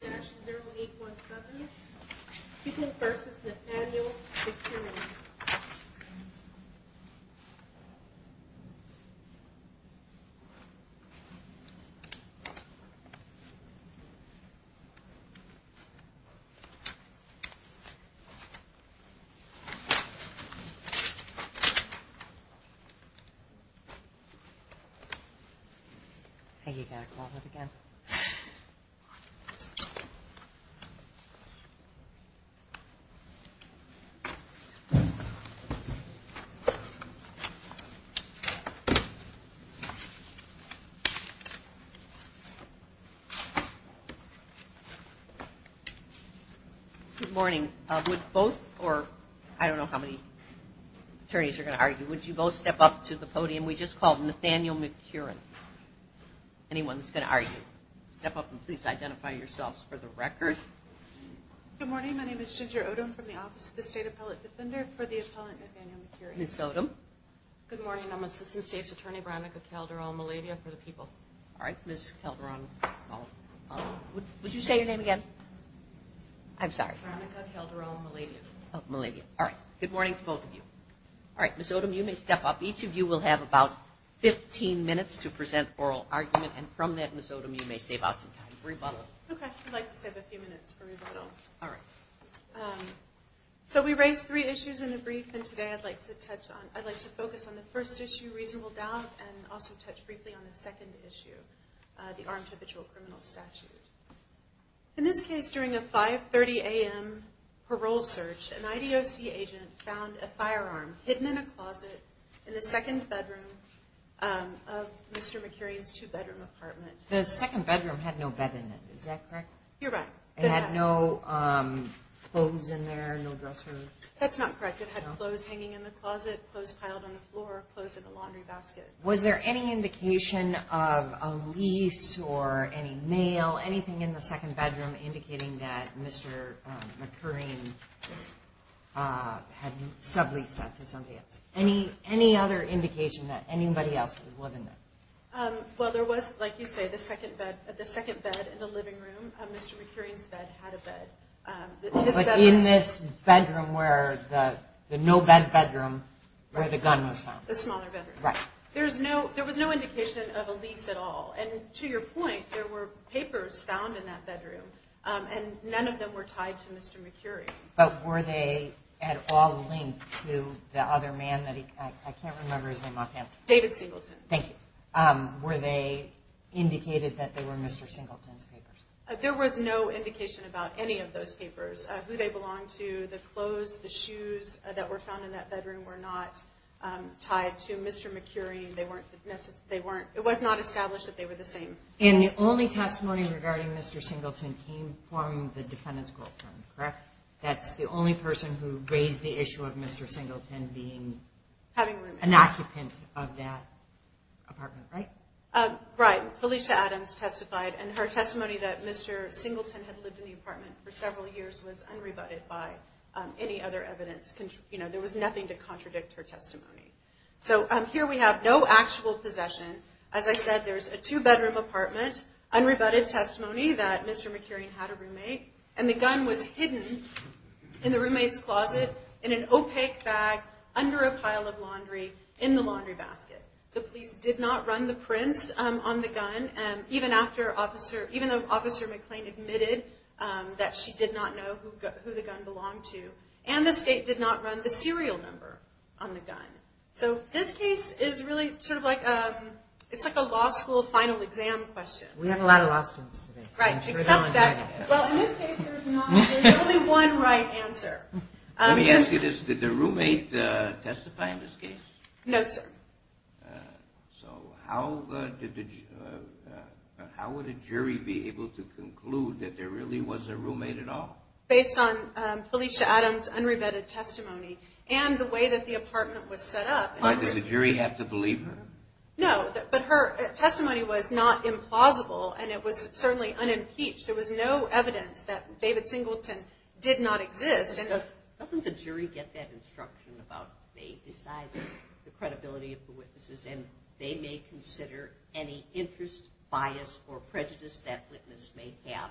dash zero eight one companies people versus the annual Mills. And you got to call it again. Good morning. Would both or I don't know how many attorneys are going to argue. Would you both step up to the podium? We just called Nathaniel McEwren. Anyone's going to argue, step up and please identify yourselves for the record. Good morning. My name is Ginger Odom from the Office of the State Appellate Defender for the Appellant Nathaniel McEwren. Ms. Odom. Good morning. I'm Assistant State's Attorney, Veronica Calderon-Malavia for the people. All right. Ms. Calderon-Malavia, would you say your name again? I'm sorry. Veronica Calderon-Malavia. Oh, Malavia. All right. Good morning to both of you. All right. Ms. Odom, you may step up. Each of you will have about 15 minutes to present oral argument. And from that, Ms. Odom, you may save out some time for rebuttal. Okay. I'd like to save a few minutes for rebuttal. All right. Um, so we raised three issues in the brief and today I'd like to touch on, I'd like to focus on the first issue, reasonable doubt, and also touch briefly on the second issue, uh, the armed habitual criminal statute. In this case, during a 5.30 AM parole search, an IDOC agent found a firearm hidden in a closet in the second bedroom, um, of Mr. McEwren's two bedroom apartment. The second bedroom had no bed in it. Is that correct? You're right. It had no, um, clothes in there, no dresser. That's not correct. It had clothes hanging in the closet, clothes piled on the floor, clothes in the laundry basket. Was there any indication of a lease or any mail, anything in the second bedroom indicating that Mr. McEwren, uh, had subleased that to somebody else? Any, any other indication that anybody else was living there? Um, well, there was, like you say, the second bed, the second bed in the second bedroom, Mr. McEwren's bed had a bed, um, in this bedroom where the, the no bed bedroom, where the gun was found, the smaller bedroom, right? There's no, there was no indication of a lease at all. And to your point, there were papers found in that bedroom, um, and none of them were tied to Mr. McEwren, but were they at all linked to the other man that he, I can't remember his name off hand, David Singleton. Thank you. Um, were they indicated that they were Mr. Singleton's papers? Uh, there was no indication about any of those papers, uh, who they belonged to, the clothes, the shoes that were found in that bedroom were not, um, tied to Mr. McEwren. They weren't necessarily, they weren't, it was not established that they were the same. And the only testimony regarding Mr. Singleton came from the defendant's girlfriend, correct? That's the only person who raised the issue of Mr. Singleton being an occupant of that apartment, right? Uh, right. Felicia Adams testified, and her testimony that Mr. Singleton had lived in the apartment for several years was unrebutted by, um, any other evidence, you know, there was nothing to contradict her testimony. So, um, here we have no actual possession. As I said, there's a two bedroom apartment, unrebutted testimony that Mr. McEwren had a roommate, and the gun was hidden in the roommate's closet in an opaque bag under a pile of laundry in the laundry basket. The police did not run the prints, um, on the gun. Um, even after officer, even though officer McClain admitted, um, that she did not know who, who the gun belonged to, and the state did not run the serial number on the gun. So this case is really sort of like, um, it's like a law school final exam question. We have a lot of law students today. Right. Except that, well, in this case there's not, there's only one right answer. Um, let me ask you this. Did the roommate, uh, testify in this case? No, sir. Uh, so how, uh, did the, uh, uh, how would a jury be able to conclude that there really was a roommate at all? Based on, um, Felicia Adams, unrebutted testimony and the way that the apartment was set up. Why did the jury have to believe her? No, but her testimony was not implausible and it was certainly unimpeached. There was no evidence that David Singleton did not exist. And doesn't the jury get that instruction about they decide the witnesses and they may consider any interest, bias, or prejudice that witness may have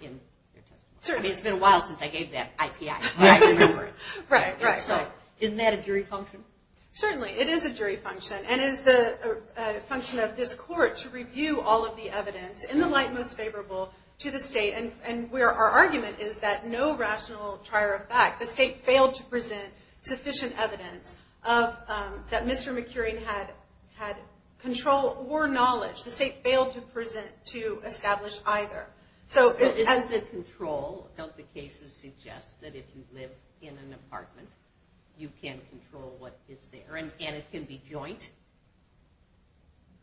in their testimony? Certainly. It's been a while since I gave that IPI, but I remember it. Right, right. So isn't that a jury function? Certainly. It is a jury function and is the function of this court to review all of the evidence in the light most favorable to the state and where our argument is that no rational trier of fact, the state failed to present sufficient evidence of, um, that Mr. McEwery had, had control or knowledge. The state failed to present, to establish either. So as the control, don't the cases suggest that if you live in an apartment, you can control what is there and it can be joint.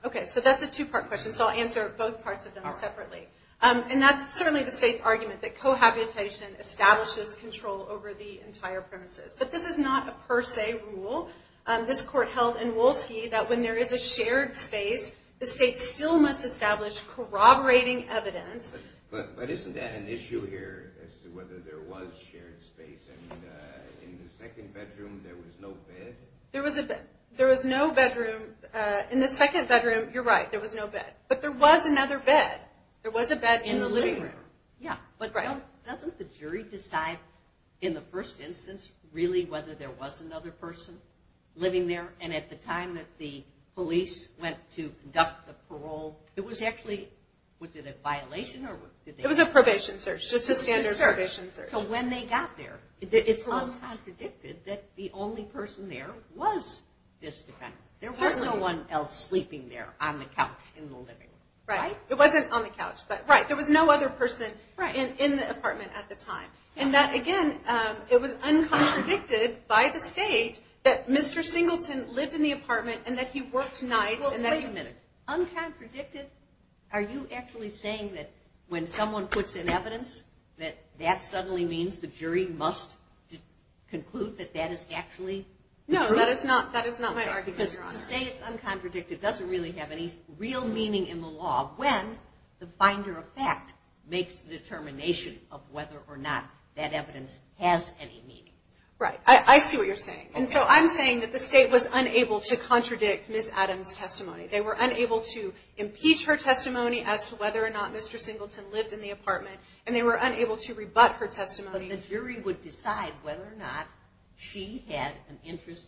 Okay. So that's a two part question. So I'll answer both parts of them separately. Um, and that's certainly the state's argument that cohabitation establishes control over the entire premises. But this is not a per se rule. Um, this court held in Wolski that when there is a shared space, the state still must establish corroborating evidence, but isn't that an issue here as to whether there was shared space and, uh, in the second bedroom, there was no bed, there was a bed, there was no bedroom, uh, in the second bedroom, you're right, there was no bed, but there was another bed. There was a bed in the living room. Yeah. But doesn't the jury decide in the first instance, really, whether there was another person living there. And at the time that the police went to conduct the parole, it was actually, was it a violation or did they? It was a probation search. Just a standard probation search. So when they got there, it's uncontradicted that the only person there was this defendant. There was no one else sleeping there on the couch in the living room, right? It wasn't on the couch, but right. There was no other person in the apartment at the time. And that, again, um, it was uncontradicted by the state that Mr. Singleton lived in the apartment and that he worked nights and that he. Uncontradicted. Are you actually saying that when someone puts in evidence, that that suddenly means the jury must conclude that that is actually, no, that is not, that is not my argument. Because to say it's uncontradicted doesn't really have any real meaning in the law when the binder of fact makes the determination of whether or not that evidence has any meaning. Right. I see what you're saying. And so I'm saying that the state was unable to contradict Ms. Adams' testimony. They were unable to impeach her testimony as to whether or not Mr. Singleton lived in the apartment. And they were unable to rebut her testimony. But the jury would decide whether or not she had an interest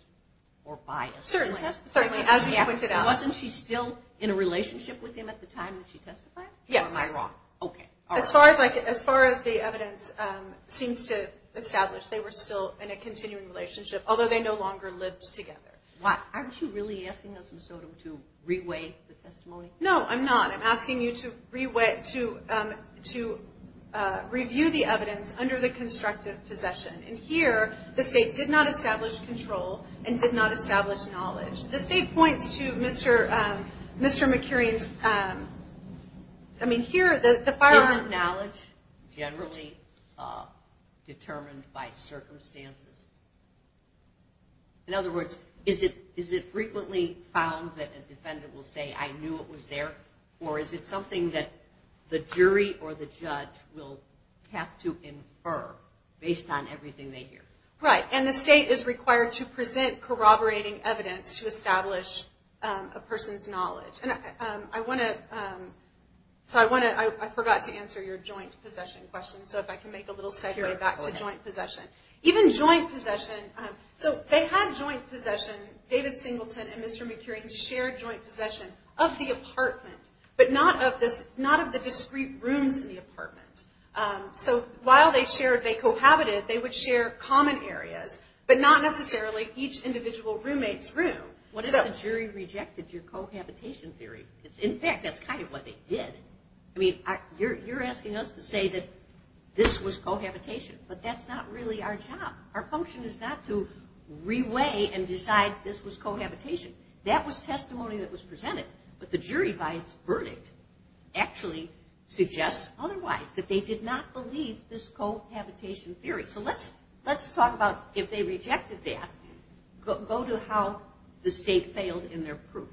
or bias. Certainly, as you pointed out. Wasn't she still in a relationship with him at the time that she testified? Yes. Or am I wrong? Okay. As far as I can, as far as the evidence, um, seems to establish, they were still in a continuing relationship, although they no longer lived together. Why? Aren't you really asking us, Ms. Odom, to reweigh the testimony? No, I'm not. I'm asking you to reweigh, to, um, to, uh, review the evidence under the constructive possession. And here the state did not establish control and did not establish knowledge. The state points to Mr., um, Mr. McEwren's, um, I mean, here the, the firearm... Isn't knowledge generally, uh, determined by circumstances? In other words, is it, is it frequently found that a defendant will say, I knew it was there, or is it something that the jury or the judge will have to infer based on everything they hear? Right. And the state is required to present corroborating evidence to establish, um, a person's knowledge. And, um, I want to, um, so I want to, I forgot to answer your joint possession question, so if I can make a little segue back to joint possession. Even joint possession, um, so they had joint possession, David Singleton and Mr. McEwren's shared joint possession of the apartment, but not of this, not of the discrete rooms in the apartment. Um, so while they shared, they cohabited, they would share common areas, but not necessarily each individual roommate's room. What if the jury rejected your cohabitation theory? It's in fact, that's kind of what they did. I mean, you're, you're asking us to say that this was cohabitation, but that's not really our job. Our function is not to reweigh and decide this was cohabitation. That was testimony that was presented, but the jury by its verdict actually suggests otherwise, that they did not believe this cohabitation theory. So let's, let's talk about if they rejected that, go, go to how the state failed in their proof.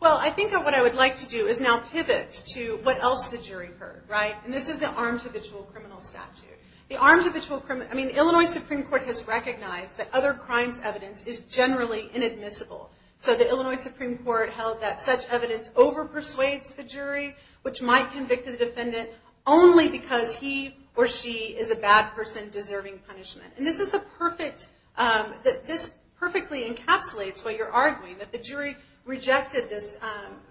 Well, I think that what I would like to do is now pivot to what else the jury heard. Right? And this is the armed habitual criminal statute. The armed habitual criminal, I mean, Illinois Supreme Court has recognized that other crimes evidence is generally inadmissible. So the Illinois Supreme Court held that such evidence over persuades the jury, which might convict the defendant only because he or she is a bad person deserving punishment. And this is the perfect that this perfectly encapsulates what you're arguing, that the jury rejected this,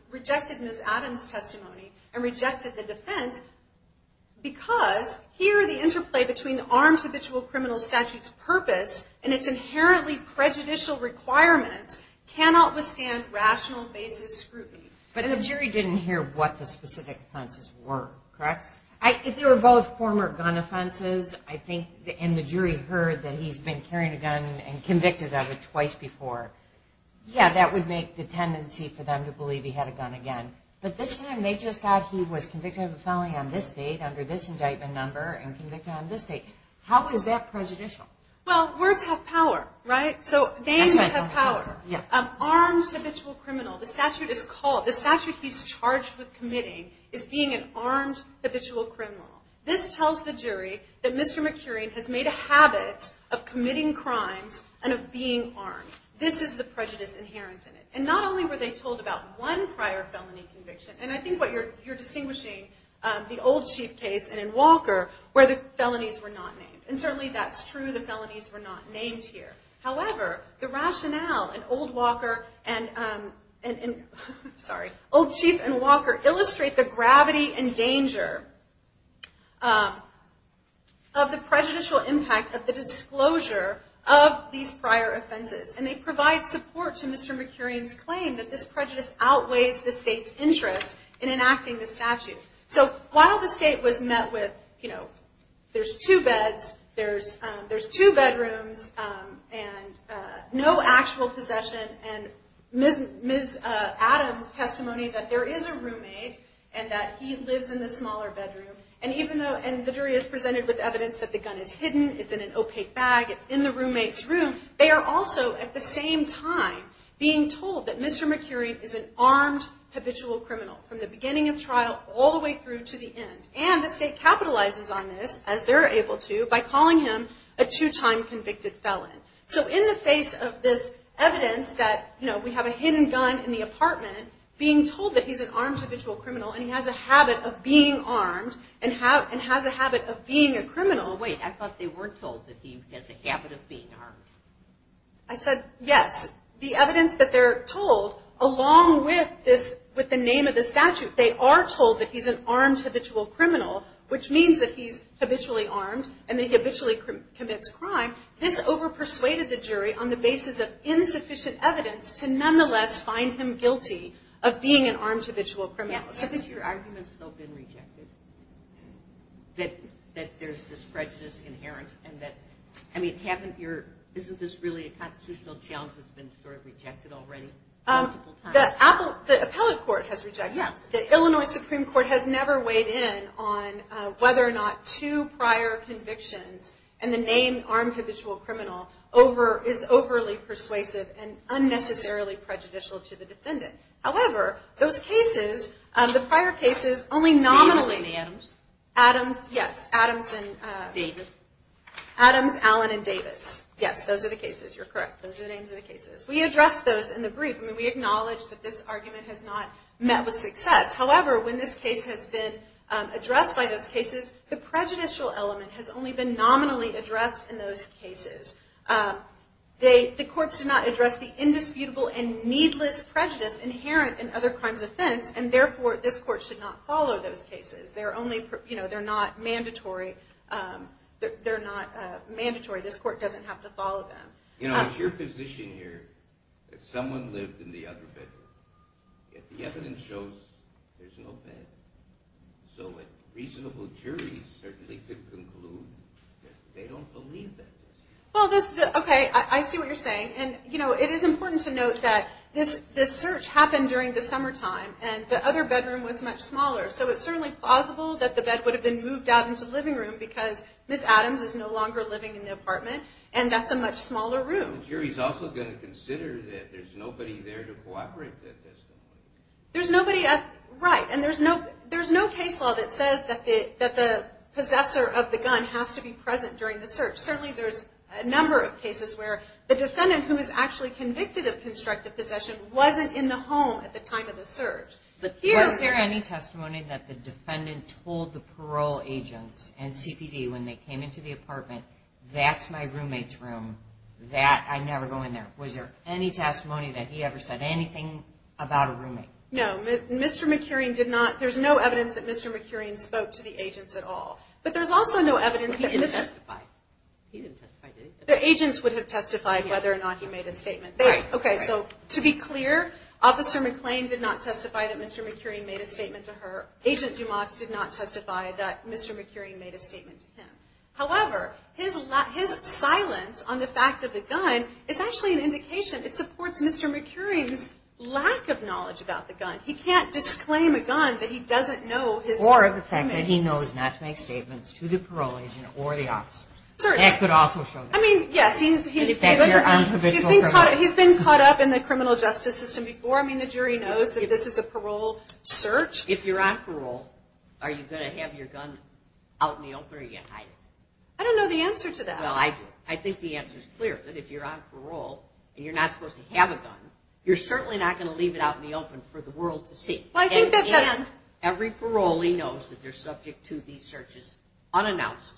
rejected Ms. Adams' testimony and rejected the defense because here the interplay between the armed habitual criminal statute's purpose and its inherently prejudicial requirements cannot withstand rational basis scrutiny. But the jury didn't hear what the specific offenses were, correct? If they were both former gun offenses, I think, and the jury heard that he's been carrying a gun and convicted of it twice before, yeah, that would make the tendency for them to believe he had a gun again, but this time they just thought he was convicted of a felony on this date under this indictment number and convicted on this date. How is that prejudicial? Well, words have power, right? So names have power. Yeah. Armed habitual criminal. The statute is called, the statute he's charged with committing is being an armed habitual criminal. This tells the jury that Mr. McEwren has made a habit of committing crimes and of being armed. This is the prejudice inherent in it. And not only were they told about one prior felony conviction, and I think what you're, you're distinguishing the old chief case and in Walker where the felonies were not named. And certainly that's true. The felonies were not named here. However, the rationale and old Walker and, um, and, and sorry, old chief and Walker illustrate the gravity and danger, um, of the prejudicial impact of the disclosure of these prior offenses. And they provide support to Mr. McEwren's claim that this prejudice outweighs the state's interest in enacting the statute. So while the state was met with, you know, there's two beds, there's, um, there's two bedrooms, um, and, uh, no actual possession and Ms. Uh, Adam's testimony that there is a roommate and that he lives in the smaller bedroom and even though, and the jury is presented with evidence that the gun is hidden, it's in an opaque bag, it's in the roommate's room, they are also at the same time being told that Mr. McEwren is an armed habitual criminal from the beginning of trial all the way through to the end. And the state capitalizes on this as they're able to by calling him a two-time convicted felon. So in the face of this evidence that, you know, we have a hidden gun in the apartment being told that he's an armed habitual criminal and he has a habit of being armed and have, and has a habit of being a criminal, wait, I thought they weren't told that he has a habit of being armed. I said, yes, the evidence that they're told along with this, with the name of the statute, they are told that he's an armed habitual criminal, which means that he's habitually armed and that he habitually commits crime. This over-persuaded the jury on the basis of insufficient evidence to nonetheless find him guilty of being an armed habitual criminal. Has your argument still been rejected? That, that there's this prejudice inherent and that, I mean, haven't your, isn't this really a constitutional challenge that's been sort of rejected already? Um, that Apple, the appellate court has rejected that. Illinois Supreme Court has never weighed in on whether or not two prior convictions and the name armed habitual criminal over, is overly persuasive and unnecessarily prejudicial to the defendant. However, those cases, um, the prior cases only nominally, Adams, yes, Adams and, uh, Davis, Adams, Allen and Davis. Yes. Those are the cases. You're correct. Those are the names of the cases. We addressed those in the group. I mean, we acknowledge that this argument has not met with success. However, when this case has been, um, addressed by those cases, the prejudicial element has only been nominally addressed in those cases. Um, they, the courts did not address the indisputable and needless prejudice inherent in other crimes offense, and therefore this court should not follow those cases. They're only, you know, they're not mandatory. Um, they're not, uh, mandatory. This court doesn't have to follow them. You know, it's your position here that someone lived in the other bedroom, yet the evidence shows there's no bed. So a reasonable jury certainly could conclude that they don't believe that. Well, this, okay. I see what you're saying. And you know, it is important to note that this, this search happened during the summertime and the other bedroom was much smaller. So it's certainly plausible that the bed would have been moved out into the living room because Ms. Adams is no longer living in the apartment and that's a much smaller room. The jury's also going to consider that there's nobody there to cooperate with this. There's nobody, uh, right. And there's no, there's no case law that says that the, that the possessor of the gun has to be present during the search. Certainly there's a number of cases where the defendant who is actually convicted of constructive possession wasn't in the home at the time of the search, but here's there. Any testimony that the defendant told the parole agents and CPD when they came into the apartment, that's my roommate's room. That, I never go in there. Was there any testimony that he ever said anything about a roommate? No, Mr. McKeering did not. There's no evidence that Mr. McKeering spoke to the agents at all, but there's also no evidence. He didn't testify. The agents would have testified whether or not he made a statement. Okay. So to be clear, officer McClain did not testify that Mr. McKeering made a statement to her. Agent Dumas did not testify that Mr. McKeering made a statement to him. However, his silence on the fact of the gun is actually an indication. It supports Mr. McKeering's lack of knowledge about the gun. He can't disclaim a gun that he doesn't know his own. Or the fact that he knows not to make statements to the parole agent or the officer. That could also show that. I mean, yes, he's been caught up in the criminal justice system before. I mean, the jury knows that this is a parole search. If you're on parole, are you going to have your gun out in the open or are I don't know the answer to that. Well, I do. I think the answer is clear that if you're on parole and you're not supposed to have a gun, you're certainly not going to leave it out in the open for the world to see. Every parolee knows that they're subject to these searches unannounced.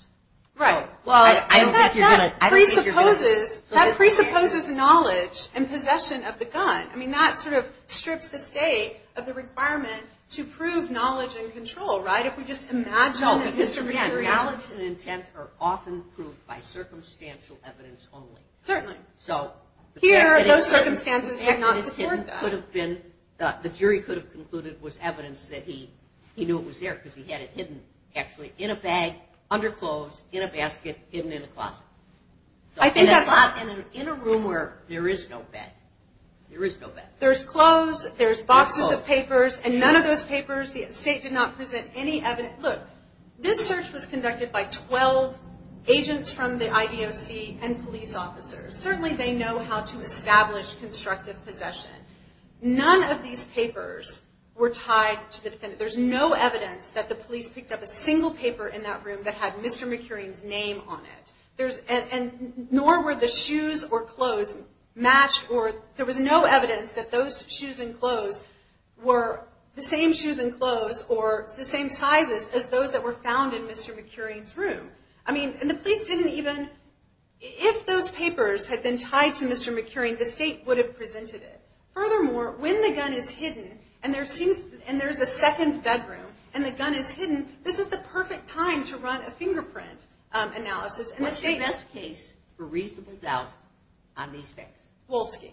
Right. Well, I don't think you're going to presupposes that presupposes knowledge and possession of the gun. I mean, that sort of strips the state of the requirement to prove knowledge and control, right? If we just imagine the history period. Again, knowledge and intent are often proved by circumstantial evidence only. Certainly. So here, those circumstances have not supported that. The jury could have concluded was evidence that he knew it was there because he had it hidden actually in a bag, under clothes, in a basket, hidden in a closet. In a room where there is no bed, there is no bed. There's clothes, there's boxes of papers, and none of those papers, the state did not present any evidence. Look, this search was conducted by 12 agents from the IDOC and police officers. Certainly they know how to establish constructive possession. None of these papers were tied to the defendant. There's no evidence that the police picked up a single paper in that room that had Mr. McKeering's name on it. There's, and nor were the shoes or clothes matched or there was no evidence that the shoes and clothes were the same shoes and clothes or the same sizes as those that were found in Mr. McKeering's room. I mean, and the police didn't even, if those papers had been tied to Mr. McKeering, the state would have presented it. Furthermore, when the gun is hidden and there seems, and there's a second bedroom and the gun is hidden, this is the perfect time to run a fingerprint analysis and the state- What's your best case for reasonable doubt on these facts? Wolski.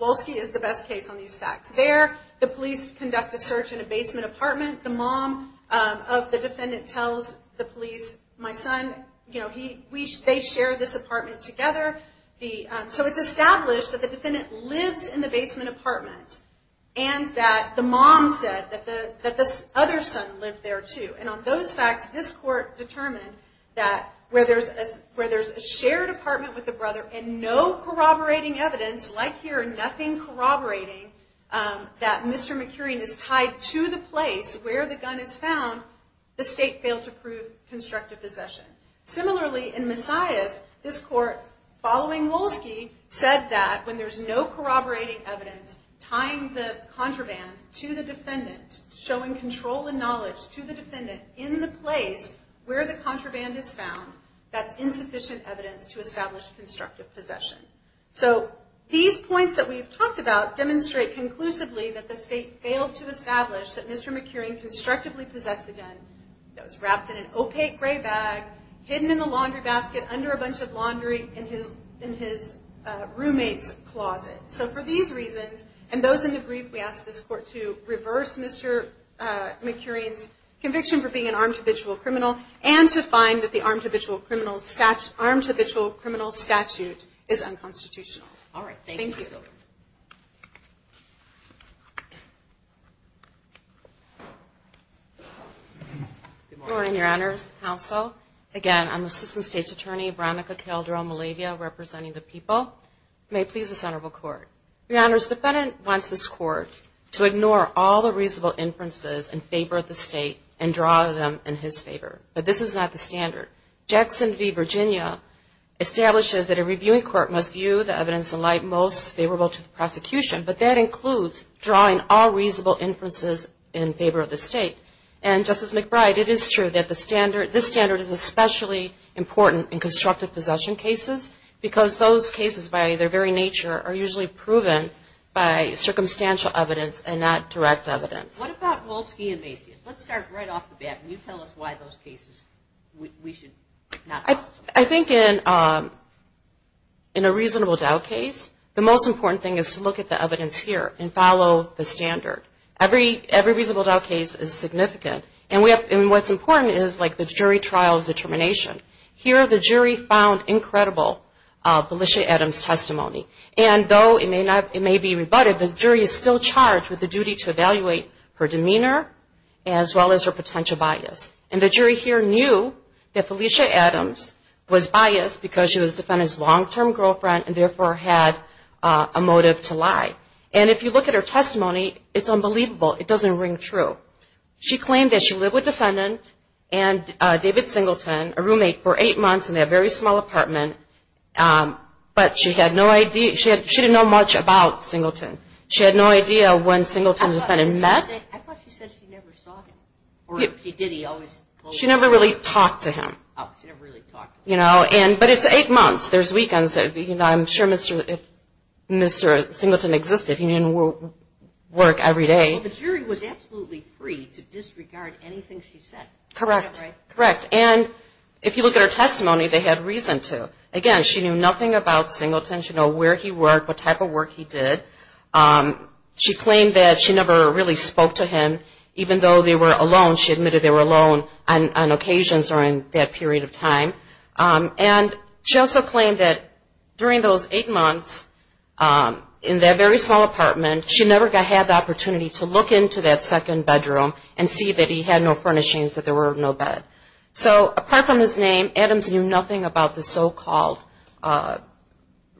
Wolski is the best case on these facts. There, the police conduct a search in a basement apartment. The mom of the defendant tells the police, my son, you know, he, we, they share this apartment together. The, so it's established that the defendant lives in the basement apartment and that the mom said that the, that this other son lived there too. And on those facts, this court determined that where there's a, where there's a shared apartment with the brother and no corroborating evidence, like here, nothing corroborating, um, that Mr. McKeering is tied to the place where the gun is found, the state failed to prove constructive possession. Similarly, in Messiah's, this court following Wolski said that when there's no corroborating evidence, tying the contraband to the defendant, showing control and knowledge to the defendant in the place where the contraband is to establish constructive possession. So these points that we've talked about demonstrate conclusively that the state failed to establish that Mr. McKeering constructively possessed the gun that was wrapped in an opaque gray bag, hidden in the laundry basket under a bunch of laundry in his, in his, uh, roommate's closet. So for these reasons, and those in the brief, we asked this court to reverse Mr. uh, McKeering's conviction for being an armed habitual criminal and to find that the armed habitual criminal statute armed habitual criminal statute is unconstitutional. All right. Thank you. Good morning, your honors counsel. Again, I'm assistant state's attorney, Veronica Calderon-Malavia representing the people may please the center of a court. Your honors defendant wants this court to ignore all the reasonable inferences in favor of the state and draw them in his favor, but this is not the standard. Jackson v. Virginia establishes that a reviewing court must view the evidence in light most favorable to the prosecution, but that includes drawing all reasonable inferences in favor of the state and justice McBride. It is true that the standard, this standard is especially important in constructive possession cases because those cases by their very nature are usually proven by circumstantial evidence and not direct evidence. What about Volsky and Macy's? Let's start right off the bat. Can you tell us why those cases we should not? I think in, um, in a reasonable doubt case, the most important thing is to look at the evidence here and follow the standard. Every, every reasonable doubt case is significant and we have, and what's important is like the jury trials determination here. The jury found incredible, uh, Felicia Adams testimony. And though it may not, it may be rebutted, the jury is still charged with the duty to evaluate her demeanor as well as her potential bias. And the jury here knew that Felicia Adams was biased because she was defendant's long-term girlfriend and therefore had a motive to lie. And if you look at her testimony, it's unbelievable. It doesn't ring true. She claimed that she lived with defendant and David Singleton, a roommate for eight months in a very small apartment. Um, but she had no idea. She had, she didn't know much about Singleton. She had no idea when Singleton and the defendant met. She never really talked to him, you know, and, but it's eight months. There's weekends. I'm sure Mr. Mr. Singleton existed. He didn't work every day. The jury was absolutely free to disregard anything she said. Correct. Correct. And if you look at her testimony, they had reason to, again, she knew nothing about Singleton. She know where he worked, what type of work he did. Um, she claimed that she never really spoke to him even though they were alone. She admitted they were alone on, on occasions during that period of time. Um, and she also claimed that during those eight months, um, in that very small apartment, she never got, had the opportunity to look into that second bedroom and see that he had no furnishings, that there were no bed. So apart from his name, Adams knew nothing about the so-called, uh,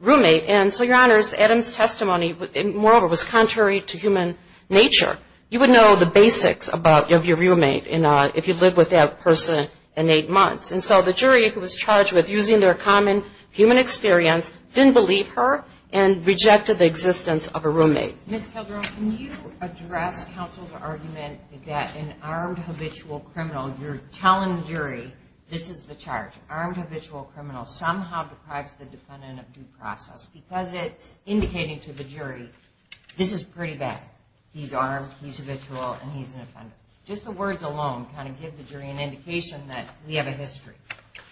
roommate. And so your honors, Adam's testimony, moreover, was contrary to human nature. You would know the basics about, of your roommate in a, if you'd live with that person in eight months. And so the jury who was charged with using their common human experience didn't believe her and rejected the existence of a roommate. Ms. Calderon, can you address counsel's argument that an armed, habitual criminal, you're telling jury, this is the charge, armed, habitual criminal somehow deprives the defendant of due process because it's indicating to the jury, this is pretty bad. He's armed, he's habitual, and he's an offender. Just the words alone kind of give the jury an indication that we have a history.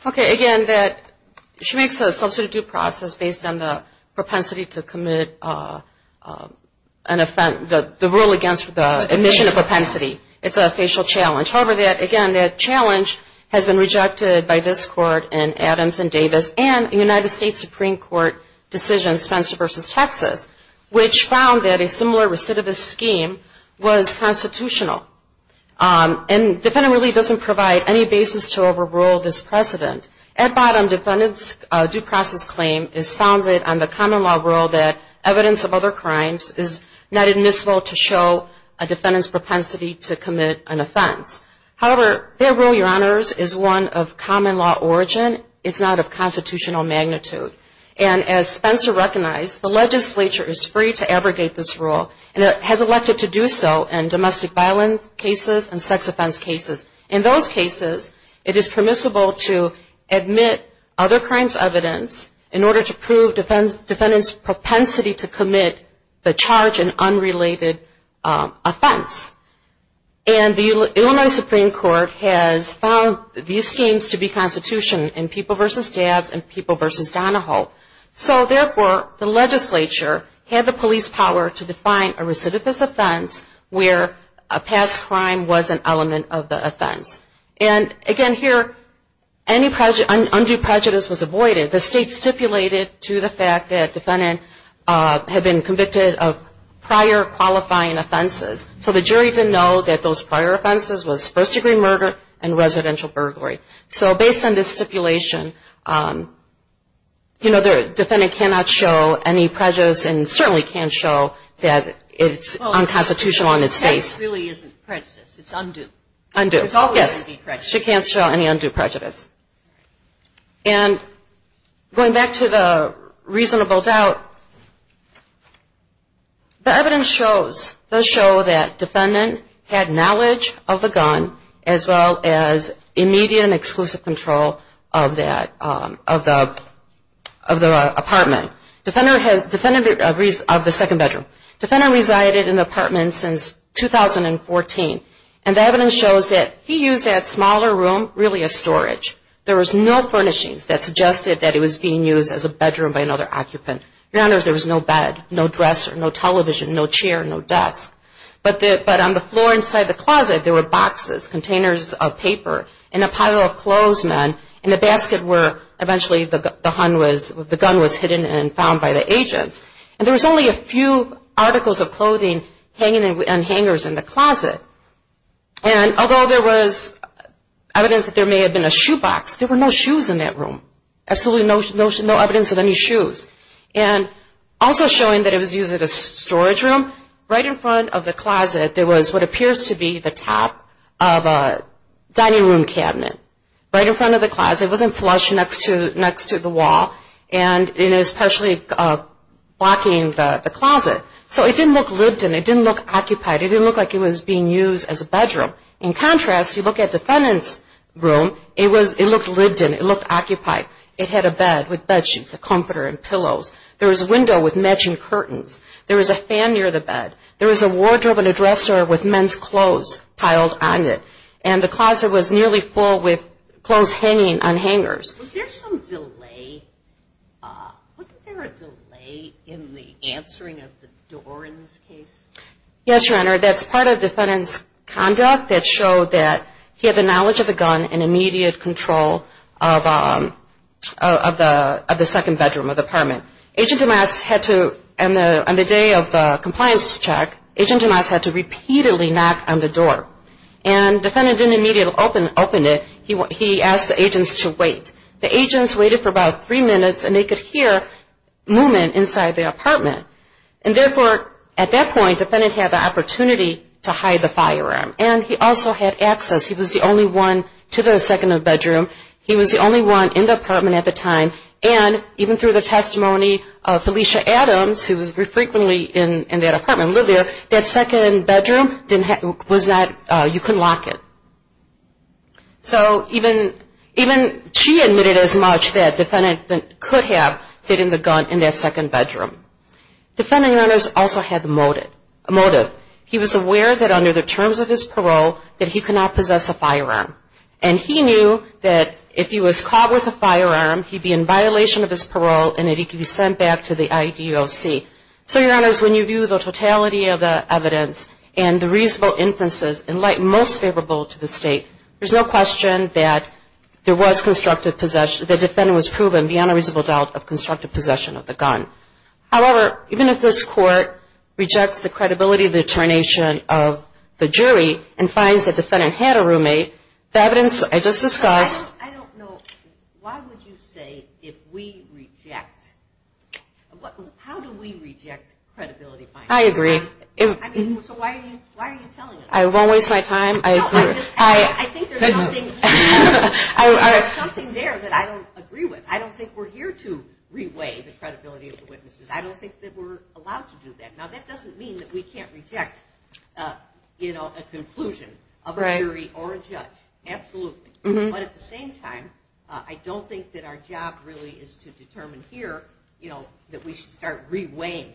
Okay. Again, that she makes a substitute due process based on the propensity to commit, uh, uh, an offense, the rule against the admission of propensity. It's a facial challenge. However, that, again, that challenge has been rejected by this court and Adams and Davis and the United States Supreme Court decision, Spencer versus Texas, which found that a similar recidivist scheme was constitutional. Um, and the defendant really doesn't provide any basis to overrule this precedent. At bottom, defendant's due process claim is founded on the common law rule that evidence of other crimes is not admissible to show a defendant's propensity to commit an offense. However, their rule, your honors, is one of common law origin. It's not of constitutional magnitude. And as Spencer recognized, the legislature is free to abrogate this rule and has elected to do so in domestic violence cases and sex offense cases. In those cases, it is permissible to admit other crimes evidence in order to prove defense defendant's propensity to commit the charge and unrelated, um, offense. And the Illinois Supreme Court has found these schemes to be constitution in people versus dabs and people versus Donahoe. So therefore the legislature had the police power to define a recidivist offense where a past crime was an element of the offense. And again, here, any prejudice, undue prejudice was avoided. The state stipulated to the fact that defendant, uh, had been convicted of prior qualifying offenses. So the jury didn't know that those prior offenses was first degree murder and residential burglary. So based on this stipulation, um, you know, the defendant cannot show any prejudice and certainly can't show that it's unconstitutional on its face. It really isn't prejudice. It's undue. Undue. It's always undue prejudice. She can't show any undue prejudice. And going back to the reasonable doubt, the evidence shows, those that defendant had knowledge of the gun as well as immediate and exclusive control of that, um, of the, of the apartment. Defender has, defendant of the second bedroom. Defender resided in the apartment since 2014. And the evidence shows that he used that smaller room really as storage. There was no furnishings that suggested that it was being used as a bedroom by another occupant. Granted there was no bed, no dresser, no television, no chair, no desk. But the, but on the floor inside the closet, there were boxes, containers of paper, and a pile of clothes, men, and the basket where eventually the, the hun was, the gun was hidden and found by the agents. And there was only a few articles of clothing hanging on hangers in the closet. And although there was evidence that there may have been a shoebox, there were no shoes in that room. Absolutely no, no, no evidence of any shoes. And also showing that it was used as a storage room right in front of the closet, there was what appears to be the top of a dining room cabinet. Right in front of the closet. It wasn't flush next to, next to the wall. And it was partially, uh, blocking the closet. So it didn't look lived in. It didn't look occupied. It didn't look like it was being used as a bedroom. In contrast, you look at defendant's room. It was, it looked lived in, it looked occupied. It had a bed with bed sheets, a comforter and pillows. There was a window with matching curtains. There was a fan near the bed. There was a wardrobe and a dresser with men's clothes piled on it. And the closet was nearly full with clothes hanging on hangers. Was there some delay, uh, wasn't there a delay in the answering of the door in this case? Yes, your honor. That's part of defendant's conduct that showed that he had the knowledge of the gun and immediate control of, um, uh, of the, of the second bedroom of the apartment. Agent DeMas had to, on the, on the day of the compliance check, agent DeMas had to repeatedly knock on the door and defendant didn't immediately open, open it. He, he asked the agents to wait. The agents waited for about three minutes and they could hear movement inside the apartment. And therefore, at that point, defendant had the opportunity to hide the firearm and he also had access. He was the only one to the second bedroom. He was the only one in the apartment at the time. And even through the testimony of Felicia Adams, who was frequently in that apartment, lived there, that second bedroom didn't have, was not, uh, you couldn't lock it. So even, even she admitted as much that defendant could have hidden the gun in that second bedroom. Defendant also had the motive, a motive. He was aware that under the terms of his parole, that he cannot possess a firearm. And he knew that if he was caught with a firearm, he'd be in violation of his parole and that he could be sent back to the IEDOC. So your honors, when you view the totality of the evidence and the reasonable inferences in light most favorable to the state, there's no question that there was constructive possession, the defendant was proven beyond a reasonable doubt of constructive possession of the gun. However, even if this court rejects the credibility of the determination of the jury and finds that defendant had a roommate, the evidence I just discussed. I don't know. Why would you say, if we reject, what, how do we reject credibility findings? I agree. I mean, so why are you, why are you telling us? I won't waste my time. I agree. I think there's something, there's something there that I don't agree with. I don't think we're here to reweigh the credibility of the witnesses. I don't think that we're allowed to do that. Now that doesn't mean that we can't reject, you know, a conclusion of a jury or a judge. Absolutely. But at the same time, I don't think that our job really is to determine here, you know, that we should start reweighing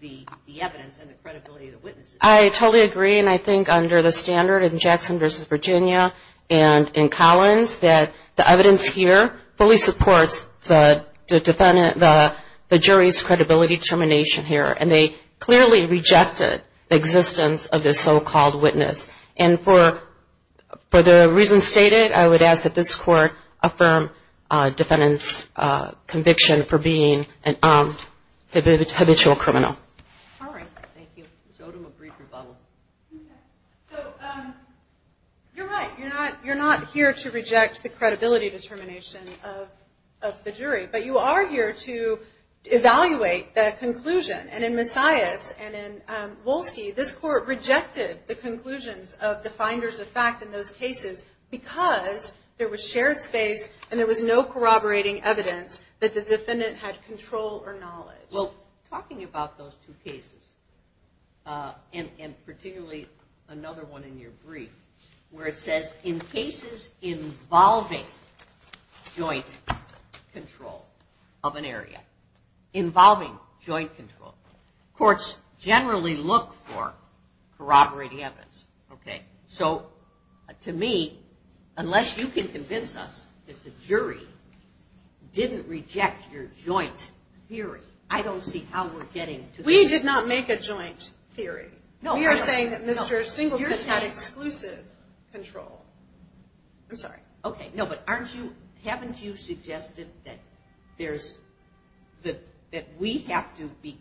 the evidence and the credibility of the witnesses. I totally agree. And I think under the standard in Jackson versus Virginia and in Collins, that the defendant, the jury's credibility determination here, and they clearly rejected the existence of this so-called witness. And for, for the reasons stated, I would ask that this court affirm defendant's conviction for being a habitual criminal. All right. Thank you. So I'll do a brief rebuttal. So you're right. You're not, you're not here to reject the credibility determination of, of the jury, but you are here to evaluate the conclusion. And in Messiahs and in Wolsky, this court rejected the conclusions of the finders of fact in those cases because there was shared space and there was no corroborating evidence that the defendant had control or knowledge. Well, talking about those two cases and, and particularly another one in your case, in cases involving joint control of an area, involving joint control, courts generally look for corroborating evidence. Okay. So to me, unless you can convince us that the jury didn't reject your joint theory, I don't see how we're getting to this. We did not make a joint theory. No, we are saying that Mr. Singleton had exclusive control. I'm sorry. Okay. No, but aren't you, haven't you suggested that there's, that, that we have to be,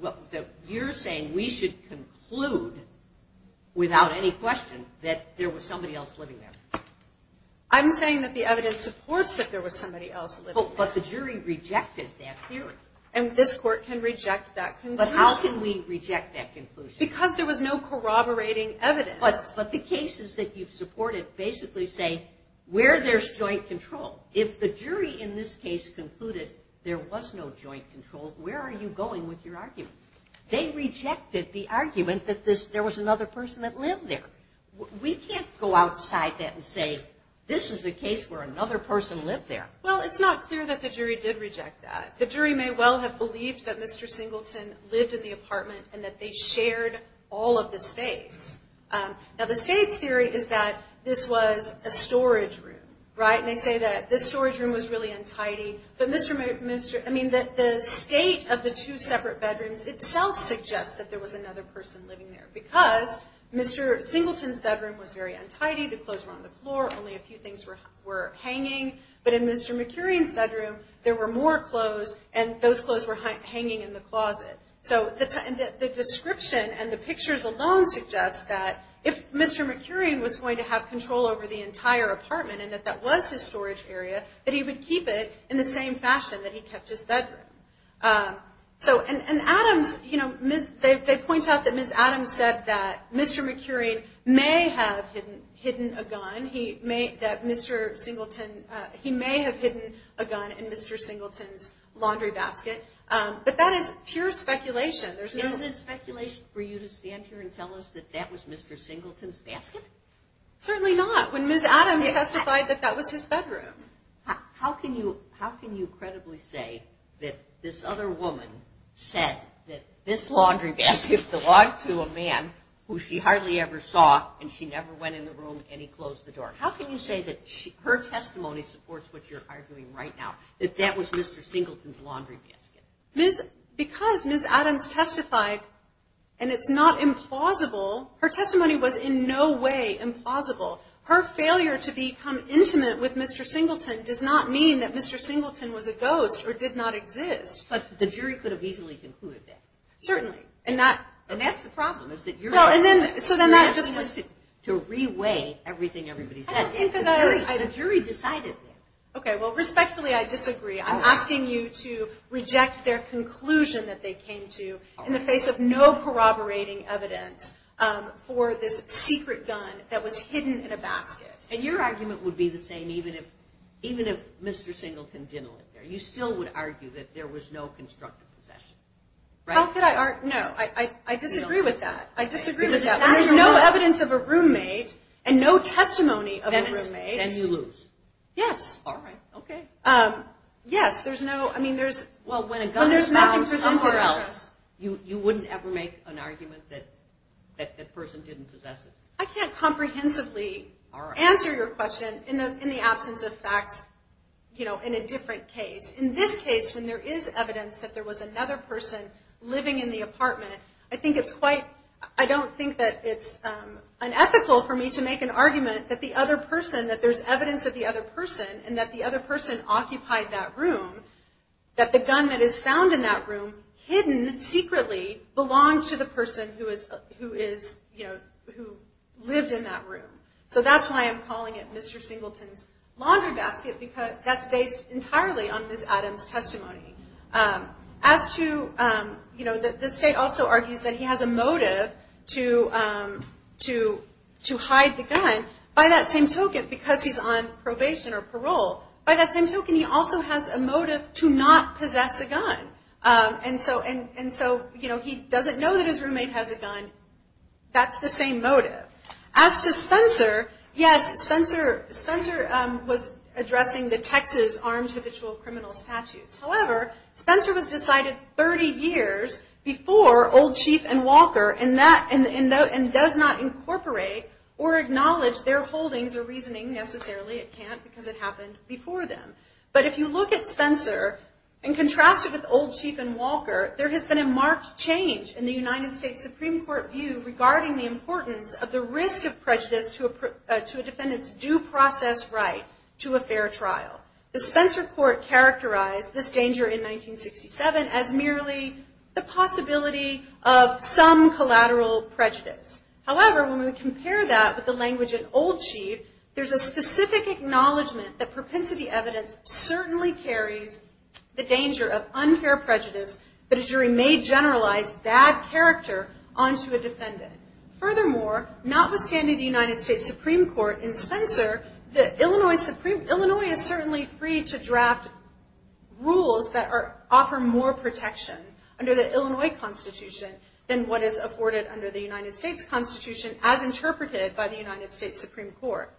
well, that you're saying we should conclude without any question that there was somebody else living there. I'm saying that the evidence supports that there was somebody else living there. But the jury rejected that theory. And this court can reject that conclusion. But how can we reject that conclusion? Because there was no corroborating evidence. But the cases that you've supported basically say, where there's joint control, if the jury in this case concluded there was no joint control, where are you going with your argument? They rejected the argument that this, there was another person that lived there. We can't go outside that and say, this is a case where another person lived there. Well, it's not clear that the jury did reject that. The jury may well have believed that Mr. Singleton lived in the apartment and that they shared all of the space. Now, the state's theory is that this was a storage room, right? And they say that this storage room was really untidy. But Mr., Mr., I mean, that the state of the two separate bedrooms itself suggests that there was another person living there because Mr. Singleton's bedroom was very untidy. The clothes were on the floor. Only a few things were, were hanging. But in Mr. McCurian's bedroom, there were more clothes and those clothes were hanging in the closet. So the description and the pictures alone suggest that if Mr. McCurian was going to have control over the entire apartment and that that was his storage area, that he would keep it in the same fashion that he kept his bedroom. So, and Adams, you know, they point out that Ms. Adams said that Mr. McCurian may have hidden a gun. He may, that Mr. Singleton, he may have hidden a gun in Mr. Singleton's laundry basket. But that is pure speculation. There's no... Is it speculation for you to stand here and tell us that that was Mr. Singleton's basket? Certainly not. When Ms. Adams testified that that was his bedroom. How can you, how can you credibly say that this other woman said that this laundry basket belonged to a man who she hardly ever saw and she never went in the room and he closed the door? How can you say that her testimony supports what you're arguing right now, that that was Mr. Singleton's laundry basket? Ms., because Ms. Adams testified, and it's not implausible, her testimony was in no way implausible. Her failure to become intimate with Mr. Singleton does not mean that Mr. Singleton was a ghost or did not exist. But the jury could have easily concluded that. Certainly. And that, and that's the problem is that you're... No, and then, so then that just... ...has to reweigh everything everybody's... I don't think that I... The jury decided that. Okay. Well, respectfully, I disagree. I'm asking you to reject their conclusion that they came to in the face of no corroborating evidence for this secret gun that was hidden in a basket. And your argument would be the same even if, even if Mr. Singleton didn't live there. You still would argue that there was no constructive possession, right? How could I, no, I, I, I disagree with that. I disagree with that. There's no evidence of a roommate and no testimony of a roommate. Then you lose. Yes. All right. Okay. Um, yes, there's no, I mean, there's... Well, when a gun is found somewhere else, you, you wouldn't ever make an argument that, that, that person didn't possess it. I can't comprehensively answer your question in the, in the absence of facts, you know, in a different case. In this case, when there is evidence that there was another person living in the apartment, I think it's quite, I don't think that it's, um, unethical for me to make an argument that the other person, that there's evidence of the other person and that the other person occupied that room, that the gun that is found in that room hidden secretly belonged to the person who is, who is, you know, who lived in that room. So that's why I'm calling it Mr. Singleton's laundry basket, because that's based entirely on Ms. Adams' testimony. Um, as to, um, you know, the state also argues that he has a motive to, um, to, to hide the gun by that same token, because he's on probation or parole. By that same token, he also has a motive to not possess a gun. Um, and so, and, and so, you know, he doesn't know that his roommate has a gun. That's the same motive. As to Spencer, yes, Spencer, Spencer, um, was addressing the Texas armed habitual criminal statutes. However, Spencer was decided 30 years before old chief and Walker and that, and, and does not incorporate or acknowledge their holdings or reasoning necessarily. It can't because it happened before them. But if you look at Spencer and contrast it with old chief and Walker, there has been a marked change in the United States Supreme court view regarding the importance of the risk of prejudice to a, to a defendant's due process right to a fair trial. The Spencer court characterized this danger in 1967 as merely the possibility of some collateral prejudice. However, when we compare that with the language in old chief, there's a specific acknowledgement that propensity evidence certainly carries the danger of unfair prejudice, but a jury may generalize bad character onto a defendant. Furthermore, notwithstanding the United States Supreme court in Spencer, the Illinois Supreme, Illinois is certainly free to than what is afforded under the United States constitution as interpreted by the United States Supreme court.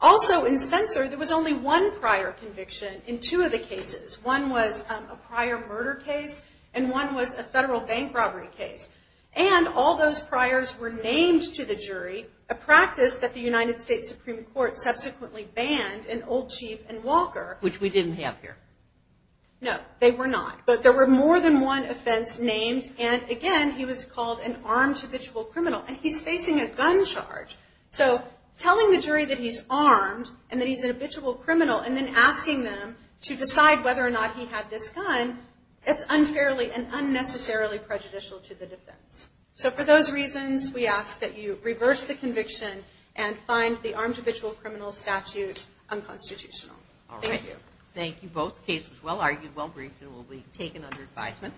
Also in Spencer, there was only one prior conviction in two of the cases. One was a prior murder case and one was a federal bank robbery case. And all those priors were named to the jury, a practice that the United States Supreme court subsequently banned in old chief and Walker, which we didn't have here. No, they were not. But there were more than one offense named. And again, he was called an armed habitual criminal and he's facing a gun charge. So telling the jury that he's armed and that he's an habitual criminal, and then asking them to decide whether or not he had this gun, it's unfairly and unnecessarily prejudicial to the defense. So for those reasons, we ask that you reverse the conviction and find the armed habitual criminal statute unconstitutional. All right. Thank you. Both cases well argued, well briefed and will be taken under advisement.